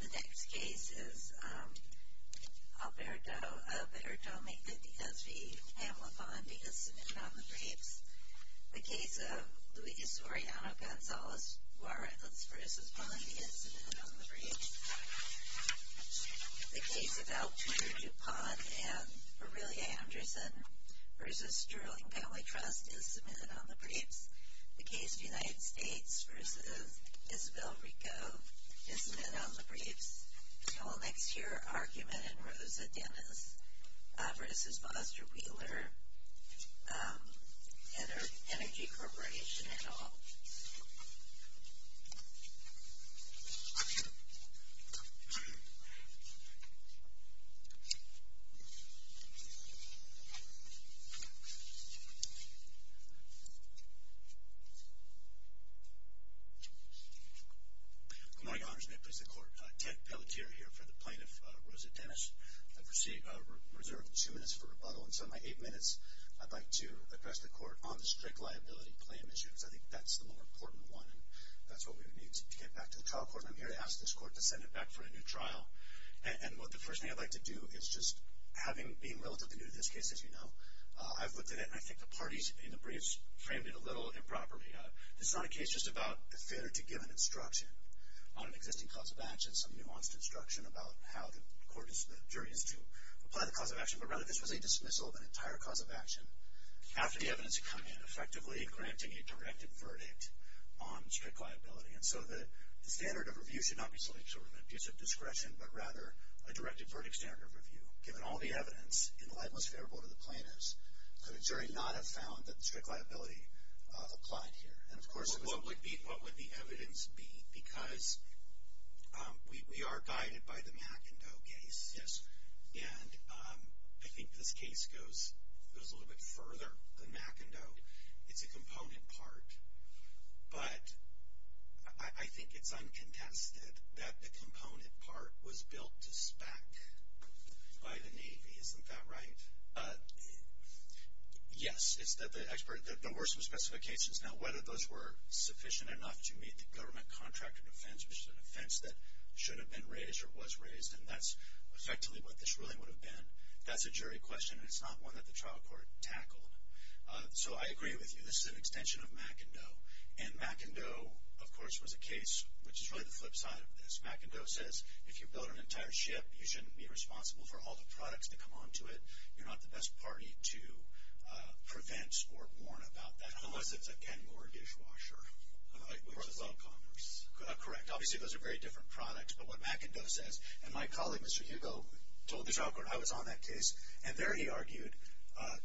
The next case is Alberto Mendez v. Pamela Pond v. Submitted on the Briefs. The case of Luis Orellano Gonzalez-Warrens v. Pond v. Submitted on the Briefs. The case of Alberto DuPont v. Aurelia Anderson v. Sterling Family Trust v. Submitted on the Briefs. The case of United States v. Isabel Rico v. Submitted on the Briefs. The whole next year argument in Rosa Dennis v. Foster Wheeler Energy Corporation et al. Good morning, Your Honors. May it please the Court. Ted Pelletier here for the plaintiff, Rosa Dennis. I have reserved two minutes for rebuttal, and so in my eight minutes, I'd like to address the Court on the strict liability plan issue, because I think that's the more important one, and that's what we would need to get back to the trial court. And I'm here to ask this Court to send it back for a new trial. And the first thing I'd like to do is just, being relatively new to this case, as you know, I've looked at it, and I think the parties in the briefs framed it a little improperly. This is not a case just about a failure to give an instruction on an existing cause of action, some nuanced instruction about how the jury is to apply the cause of action, but rather this was a dismissal of an entire cause of action after the evidence had come in, effectively granting a directed verdict on strict liability. And so the standard of review should not be something sort of an abuse of discretion, but rather a directed verdict standard of review, given all the evidence in the light most favorable to the plaintiffs. So the jury not have found that the strict liability applied here. And of course it was. What would the evidence be? Because we are guided by the McIndoe case. Yes. And I think this case goes a little bit further than McIndoe. It's a component part. But I think it's uncontested that the component part was built to spec by the Navy. Isn't that right? Yes. There were some specifications. Now, whether those were sufficient enough to meet the government contract of defense, which is an offense that should have been raised or was raised, and that's effectively what this ruling would have been, that's a jury question, and it's not one that the trial court tackled. So I agree with you. This is an extension of McIndoe. And McIndoe, of course, was a case which is really the flip side of this. McIndoe says if you build an entire ship, you shouldn't be responsible for all the products that come onto it. You're not the best party to prevent or warn about that. Unless it's a Kenmore dishwasher, which is all Congress. Correct. Obviously those are very different products. But what McIndoe says, and my colleague, Mr. Hugo, told the trial court I was on that case, and there he argued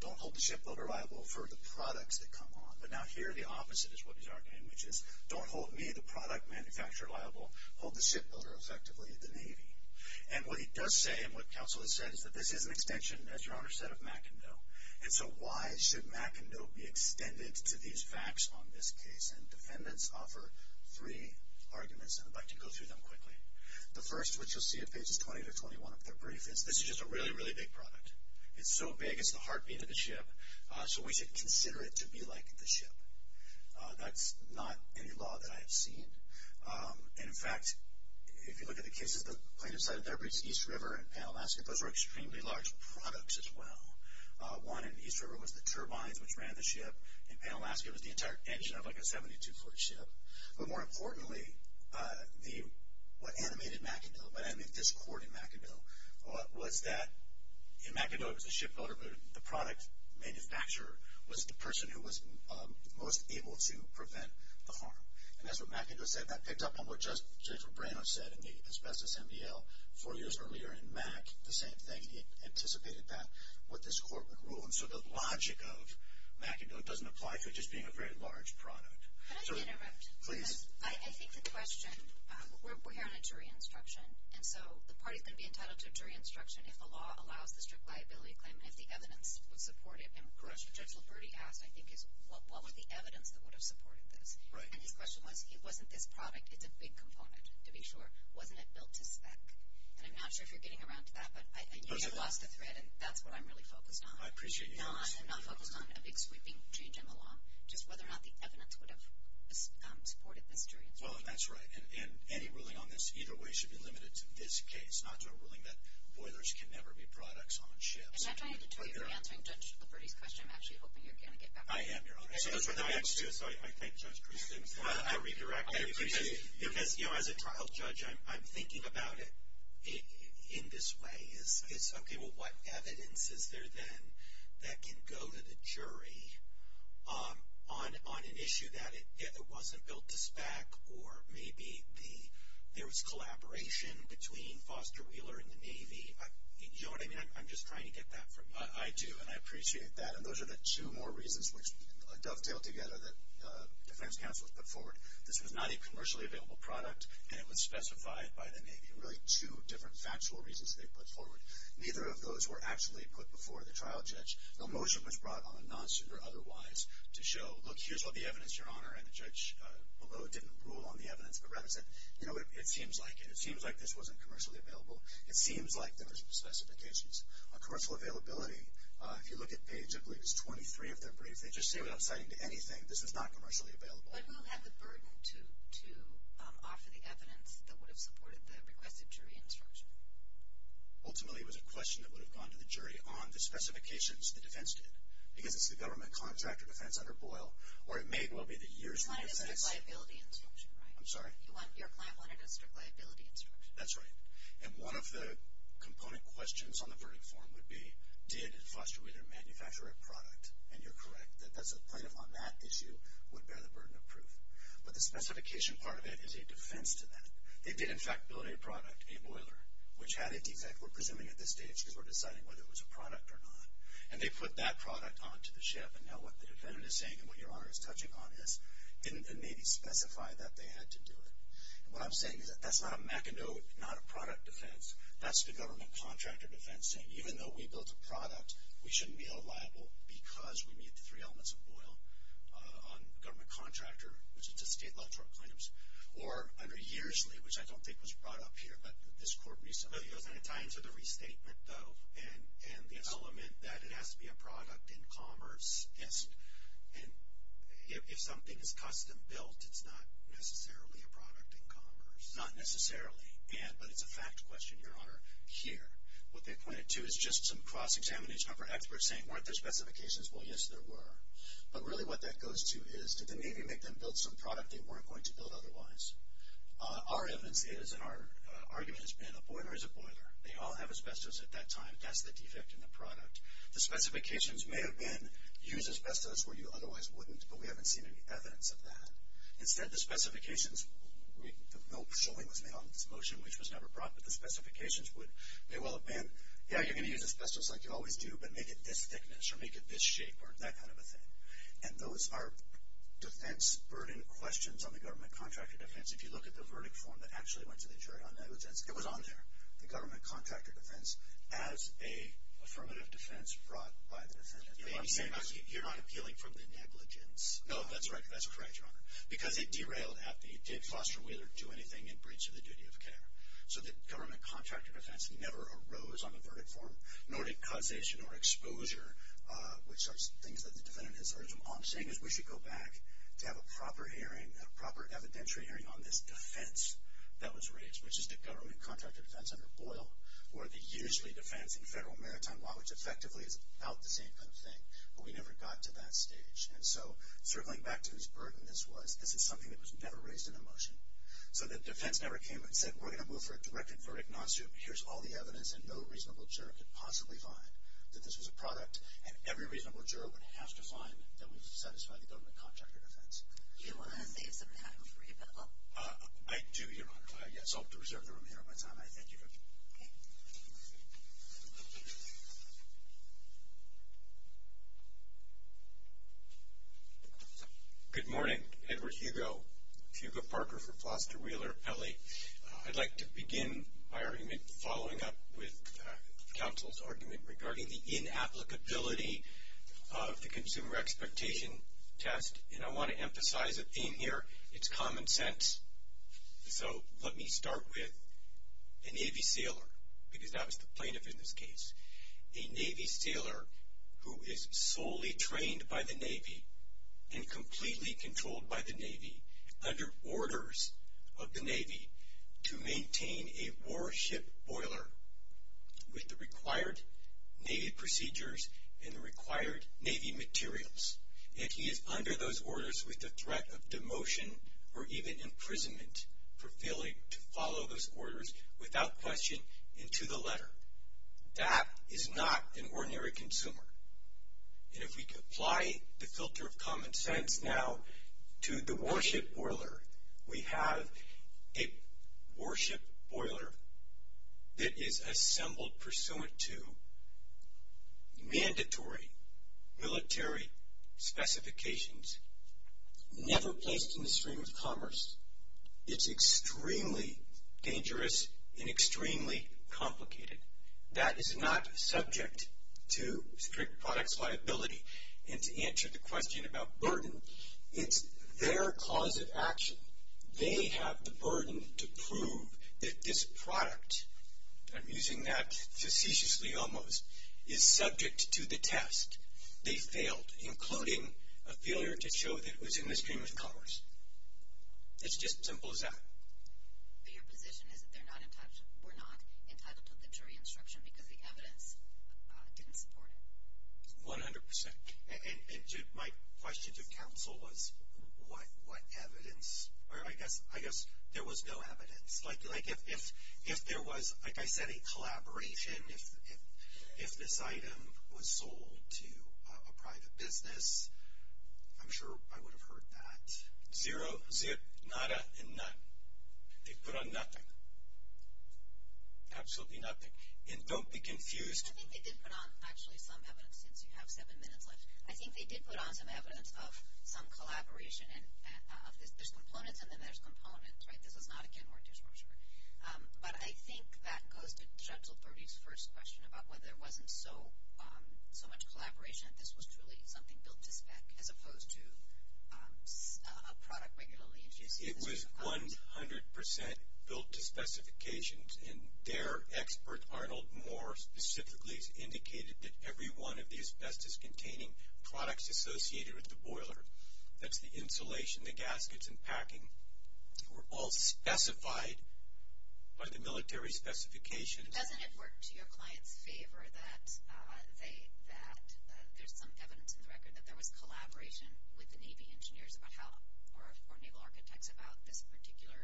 don't hold the shipbuilder liable for the products that come on. But now here the opposite is what he's arguing, which is don't hold me, the product manufacturer, liable. Hold the shipbuilder, effectively, the Navy. And what he does say and what counsel has said is that this is an extension, as Your Honor said, of McIndoe. And so why should McIndoe be extended to these facts on this case? And defendants offer three arguments, and I'd like to go through them quickly. The first, which you'll see at pages 20 to 21 of their brief, is this is just a really, really big product. It's so big, it's the heartbeat of the ship, so we should consider it to be like the ship. That's not any law that I have seen. And, in fact, if you look at the cases, the plaintiff's side of that breach, East River and Panalaska, those were extremely large products as well. One in East River was the turbines which ran the ship, and Panalaska was the entire engine of like a 72-foot ship. But more importantly, what animated McIndoe, what animated this court in McIndoe was that, in McIndoe it was the shipbuilder, but the product manufacturer was the person who was most able to prevent the harm. And that's what McIndoe said. That picked up on what Judge Lobrano said in the Asbestos MDL four years earlier in Mack, the same thing. He anticipated that, what this court would rule. And so the logic of McIndoe doesn't apply to it just being a very large product. Could I interrupt? Please. I think the question, we're here on a jury instruction, and so the party's going to be entitled to a jury instruction if the law allows the strict liability claim, and if the evidence would support it. Correct. And the question Judge Liberti asked, I think, is what was the evidence that would have supported this? Right. And his question was, it wasn't this product, it's a big component, to be sure. Wasn't it built to spec? And I'm not sure if you're getting around to that, but I know you've lost the thread, and that's what I'm really focused on. I appreciate you asking. No, I'm not focused on a big sweeping change in the law, just whether or not the evidence would have supported this jury instruction. Well, that's right. And any ruling on this either way should be limited to this case, not to a ruling that boilers can never be products on ships. And after I get to you for answering Judge Liberti's question, I'm actually hoping you're going to get back to me. I am, Your Honor. Those were the backstories. I thank Judge Christensen for redirecting me. I appreciate it. Because, you know, as a trial judge, I'm thinking about it in this way. Okay, well, what evidence is there then that can go to the jury on an issue that either wasn't built to spec or maybe there was collaboration between Foster Wheeler and the Navy? You know what I mean? I'm just trying to get that from you. I do, and I appreciate that. And those are the two more reasons which dovetail together that defense counsel has put forward. This was not a commercially available product, and it was specified by the Navy. Really, two different factual reasons they put forward. Neither of those were actually put before the trial judge. No motion was brought on a non-suit or otherwise to show, look, here's all the evidence, Your Honor, and the judge below didn't rule on the evidence but rather said, you know what, it seems like it. It seems like this wasn't commercially available. It seems like there were some specifications. Commercial availability, if you look at page, I believe it's 23 of their briefs, they just say without citing anything, this is not commercially available. What will have the burden to offer the evidence that would have supported the requested jury instruction? Ultimately, it was a question that would have gone to the jury on the specifications the defense did. Because it's the government contractor defense under Boyle, or it may well be the years of the defense. You want a district liability instruction, right? I'm sorry? Your client wanted a district liability instruction. That's right. And one of the component questions on the verdict form would be, did Foster Wheeler manufacture a product? And you're correct. The plaintiff on that issue would bear the burden of proof. But the specification part of it is a defense to that. They did, in fact, build a product, a boiler, which had a defect. We're presuming at this stage because we're deciding whether it was a product or not. And they put that product onto the ship. And now what the defendant is saying and what Your Honor is touching on is, didn't they maybe specify that they had to do it? And what I'm saying is that that's not a mackinac, not a product defense. That's the government contractor defense saying, even though we built a product, we shouldn't be held liable because we meet the three elements of Boyle on government contractor, which is a state law court claim. Or under Yearsley, which I don't think was brought up here, but this court recently did. And it ties into the restatement, though, and the element that it has to be a product in commerce. And if something is custom built, it's not necessarily a product in commerce. Not necessarily. But it's a fact question, Your Honor, here. What they pointed to is just some cross-examination of our experts saying, weren't there specifications? Well, yes, there were. But really what that goes to is, did the Navy make them build some product they weren't going to build otherwise? Our evidence is, and our argument has been, a boiler is a boiler. They all have asbestos at that time. That's the defect in the product. The specifications may have been, use asbestos where you otherwise wouldn't, but we haven't seen any evidence of that. Instead, the specifications, no showing was made on this motion, which was never brought, but the specifications would, they will have been, yeah, you're going to use asbestos like you always do, but make it this thickness, or make it this shape, or that kind of a thing. And those are defense burden questions on the government contractor defense. If you look at the verdict form that actually went to the jury on negligence, it was on there, the government contractor defense, as a affirmative defense brought by the defendant. You're not appealing from the negligence. No, that's right. That's correct, Your Honor. Because it derailed after. It did foster whether to do anything in breach of the duty of care. So the government contractor defense never arose on the verdict form, nor did causation or exposure, which are things that the defendant has urged them on. The saying is we should go back to have a proper hearing, a proper evidentiary hearing on this defense that was raised, which is the government contractor defense under Boyle, or the usually defense in federal maritime law, which effectively is about the same kind of thing, but we never got to that stage. And so circling back to whose burden this was, this is something that was never raised in a motion. So the defense never came and said we're going to move for a directed verdict non-suit. Here's all the evidence, and no reasonable juror could possibly find that this was a product, and every reasonable juror would have to find that would satisfy the government contractor defense. Do you want to save some time for your bill? I do, Your Honor. Yes, I'll reserve the remainder of my time. I thank you for that. Okay. Good morning. I'm Edward Hugo, Hugo Parker for Foster Wheeler, L.A. I'd like to begin my argument following up with counsel's argument regarding the inapplicability of the consumer expectation test, and I want to emphasize a theme here, it's common sense. So let me start with a Navy sailor, because that was the plaintiff in this case, a Navy sailor who is solely trained by the Navy and completely controlled by the Navy, under orders of the Navy to maintain a warship boiler with the required Navy procedures and the required Navy materials. If he is under those orders with the threat of demotion or even imprisonment for failing to follow those orders without question into the letter, that is not an ordinary consumer. And if we apply the filter of common sense now to the warship boiler, we have a warship boiler that is assembled pursuant to mandatory military specifications, never placed in the stream of commerce. It's extremely dangerous and extremely complicated. That is not subject to strict products liability. And to answer the question about burden, it's their cause of action. They have the burden to prove that this product, I'm using that facetiously almost, is subject to the test. They failed, including a failure to show that it was in the stream of commerce. It's just as simple as that. But your position is that they were not entitled to the jury instruction because the evidence didn't support it. 100%. And my question to counsel was what evidence? I guess there was no evidence. Like if there was, like I said, a collaboration, if this item was sold to a private business, I'm sure I would have heard that. Zero, zip, nada, and none. They put on nothing. Absolutely nothing. And don't be confused. I think they did put on actually some evidence since you have seven minutes left. I think they did put on some evidence of some collaboration. There's components and then there's components, right? This is not a Ken Hortons brochure. But I think that goes to Judge Lutherie's first question about whether there wasn't so much collaboration that this was truly something built to spec as opposed to a product regularly introduced. It was 100% built to specifications. And their expert, Arnold Moore, specifically has indicated that every one of the asbestos-containing products associated with the boiler, that's the insulation, the gaskets, and packing, were all specified by the military specifications. Doesn't it work to your client's favor that there's some evidence in the record that there was collaboration with the Navy engineers or naval architects about this particular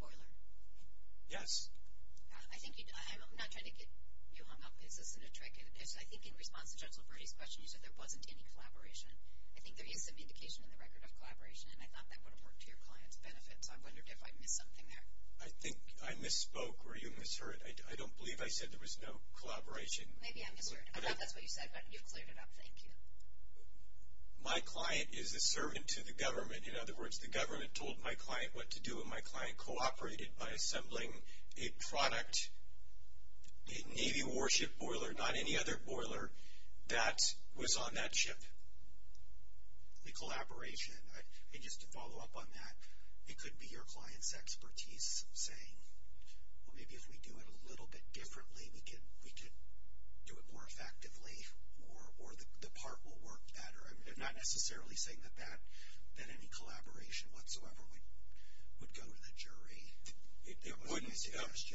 boiler? Yes. I'm not trying to get you hung up. Is this a trick? I think in response to Judge Lutherie's question, you said there wasn't any collaboration. I think there is some indication in the record of collaboration, and I thought that would have worked to your client's benefit. So I wondered if I missed something there. I think I misspoke or you misheard. I don't believe I said there was no collaboration. Maybe I misheard. I thought that's what you said, but you cleared it up. Thank you. My client is a servant to the government. In other words, the government told my client what to do, and my client cooperated by assembling a product, a Navy warship boiler, not any other boiler that was on that ship. The collaboration, just to follow up on that, it could be your client's expertise saying, well maybe if we do it a little bit differently we could do it more effectively or the part will work better. I'm not necessarily saying that any collaboration whatsoever would go to the jury.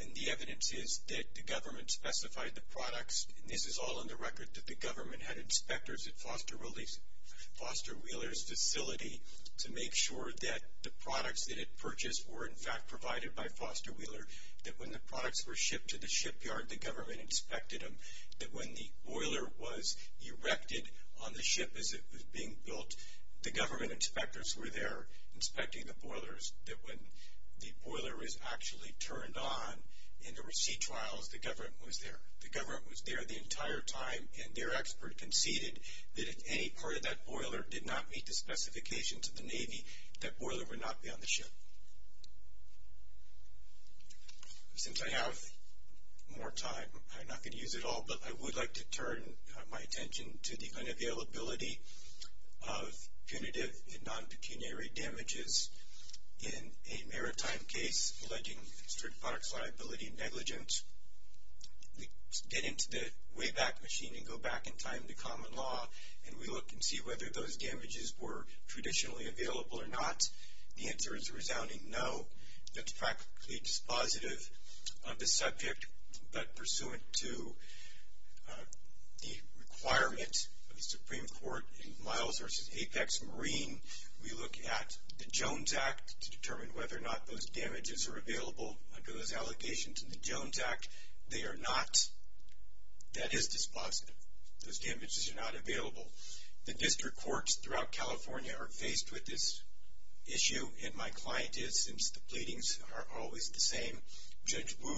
And the evidence is that the government specified the products, and this is all on the record, that the government had inspectors at Foster Wheeler's facility to make sure that the products that it purchased were in fact provided by Foster Wheeler, that when the products were shipped to the shipyard the government inspected them, that when the boiler was erected on the ship as it was being built, the government inspectors were there inspecting the boilers, that when the boiler was actually turned on in the receipt trials the government was there. The government was there the entire time, and their expert conceded that if any part of that boiler did not meet the specifications of the Navy, that boiler would not be on the ship. Since I have more time, I'm not going to use it all, but I would like to turn my attention to the unavailability of punitive and non-pecuniary damages. In a maritime case alleging street products liability negligence, we get into the Wayback Machine and go back in time to common law, and we look and see whether those damages were traditionally available or not. The answer is a resounding no. That's practically dispositive of the subject, but pursuant to the requirement of the Supreme Court in Miles v. Apex Marine, we look at the Jones Act to determine whether or not those damages are available. Under those allegations in the Jones Act, they are not. That is dispositive. Those damages are not available. The district courts throughout California are faced with this issue, and my client is, since the pleadings are always the same. Judge Wu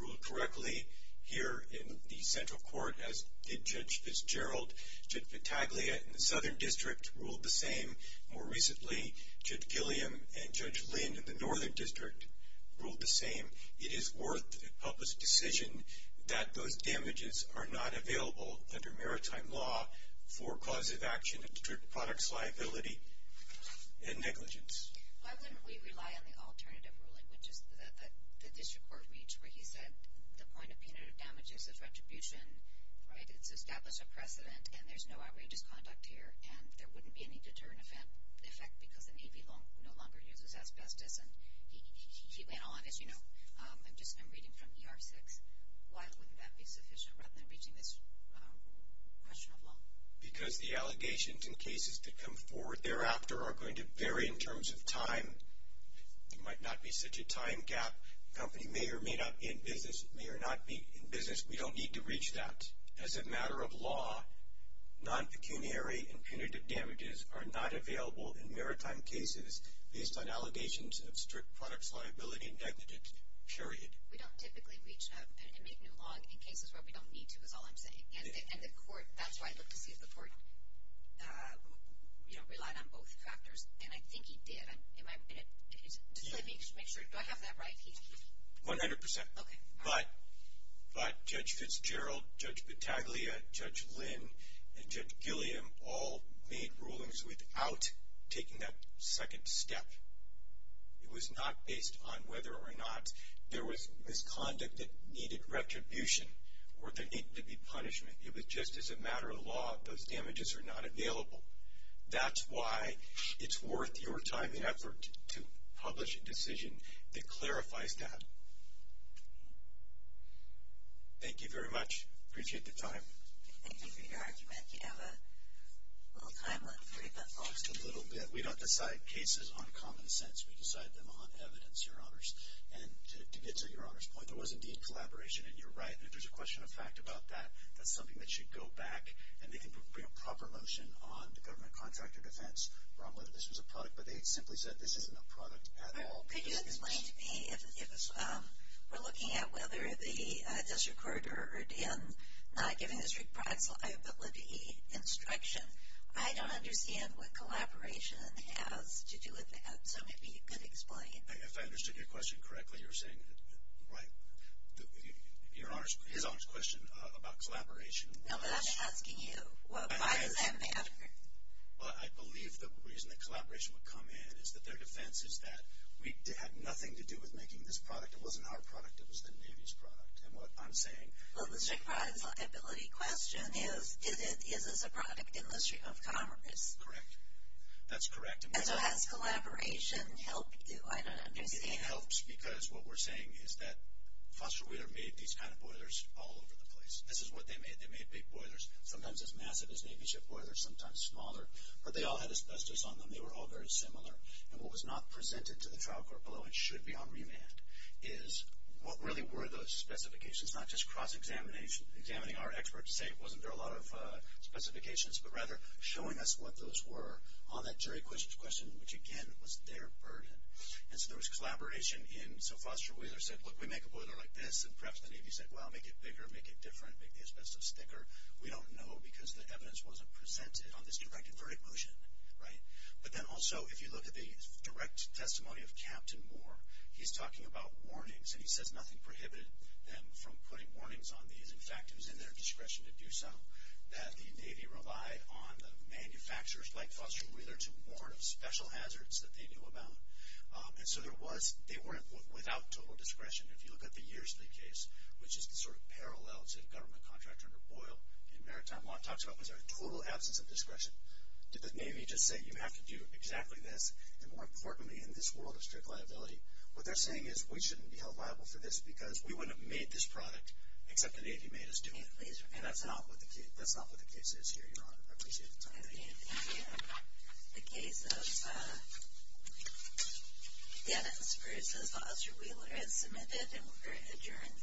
ruled correctly here in the Central Court, as did Judge Fitzgerald. Judge Vitaglia in the Southern District ruled the same. More recently, Judge Gilliam and Judge Lynn in the Northern District ruled the same. It is worth the public's decision that those damages are not available under maritime law for cause of action of street products liability and negligence. Why wouldn't we rely on the alternative ruling, which is that the district court reached, where he said the point of punitive damages is retribution, right? It's established a precedent, and there's no outrageous conduct here, and there wouldn't be any deterrent effect because the Navy no longer uses asbestos, and he went on, as you know. I'm reading from ER 6. Why wouldn't that be sufficient rather than reaching this question of law? Because the allegations in cases that come forward thereafter are going to vary in terms of time. There might not be such a time gap. The company may or may not be in business. It may or may not be in business. We don't need to reach that. As a matter of law, non-pecuniary and punitive damages are not available in maritime cases based on allegations of street products liability and negligence, period. We don't typically reach that and make new law in cases where we don't need to is all I'm saying. And the court, that's why I'd like to see if the court relied on both factors, and I think he did. Just let me make sure. Do I have that right? 100%. Okay. But Judge Fitzgerald, Judge Battaglia, Judge Lynn, and Judge Gilliam all made rulings without taking that second step. It was not based on whether or not there was misconduct that needed retribution or there needed to be punishment. It was just as a matter of law, those damages are not available. That's why it's worth your time and effort to publish a decision that clarifies that. Thank you very much. Appreciate the time. Thank you for your argument. You have a little time left for your thoughts. Just a little bit. We don't decide cases on common sense. We decide them on evidence, Your Honors. And to get to Your Honor's point, there was indeed collaboration, and you're right. And if there's a question of fact about that, that's something that should go back, and they can bring a proper motion on the government contract or defense wrong whether this was a product. But they simply said this isn't a product at all. Could you explain to me if we're looking at whether the district court or D.N. not giving the district products liability instruction, I don't understand what collaboration has to do with that. So maybe you could explain. If I understood your question correctly, you're saying, right, His Honor's question about collaboration was? No, but I'm asking you, why does that matter? Well, I believe the reason that collaboration would come in is that their defense is that we had nothing to do with making this product. It wasn't our product. It was the Navy's product. And what I'm saying is? Well, the district product liability question is, is this a product in the District of Commerce? Correct. That's correct. And so has collaboration helped you? I don't understand. It helps because what we're saying is that Foster Wheeler made these kind of boilers all over the place. This is what they made. They made big boilers, sometimes as massive as Navy ship boilers, sometimes smaller. But they all had asbestos on them. They were all very similar. And what was not presented to the trial court below and should be on remand is, what really were those specifications? Not just cross-examining our experts to say, wasn't there a lot of specifications, but rather showing us what those were on that jury question, which, again, was their burden. And so there was collaboration. And so Foster Wheeler said, look, we make a boiler like this. And perhaps the Navy said, well, make it bigger, make it different, make the asbestos thicker. We don't know because the evidence wasn't presented on this direct and verdict motion. But then also, if you look at the direct testimony of Captain Moore, he's talking about warnings. And he says nothing prohibited them from putting warnings on these. In fact, it was in their discretion to do so, that the Navy relied on the manufacturers like Foster Wheeler to warn of special hazards that they knew about. And so they weren't without total discretion. If you look at the years of the case, which is the sort of parallel to the government contract under Boyle, and maritime law talks about was there a total absence of discretion. Did the Navy just say, you have to do exactly this? And more importantly, in this world of strict liability, what they're saying is, we shouldn't be held liable for this because we wouldn't have made this product except the Navy made us do it. And that's not what the case is here, Your Honor. I appreciate the time. Thank you. The case of Dennis versus Foster Wheeler is submitted and we're adjourned for this morning. All rise.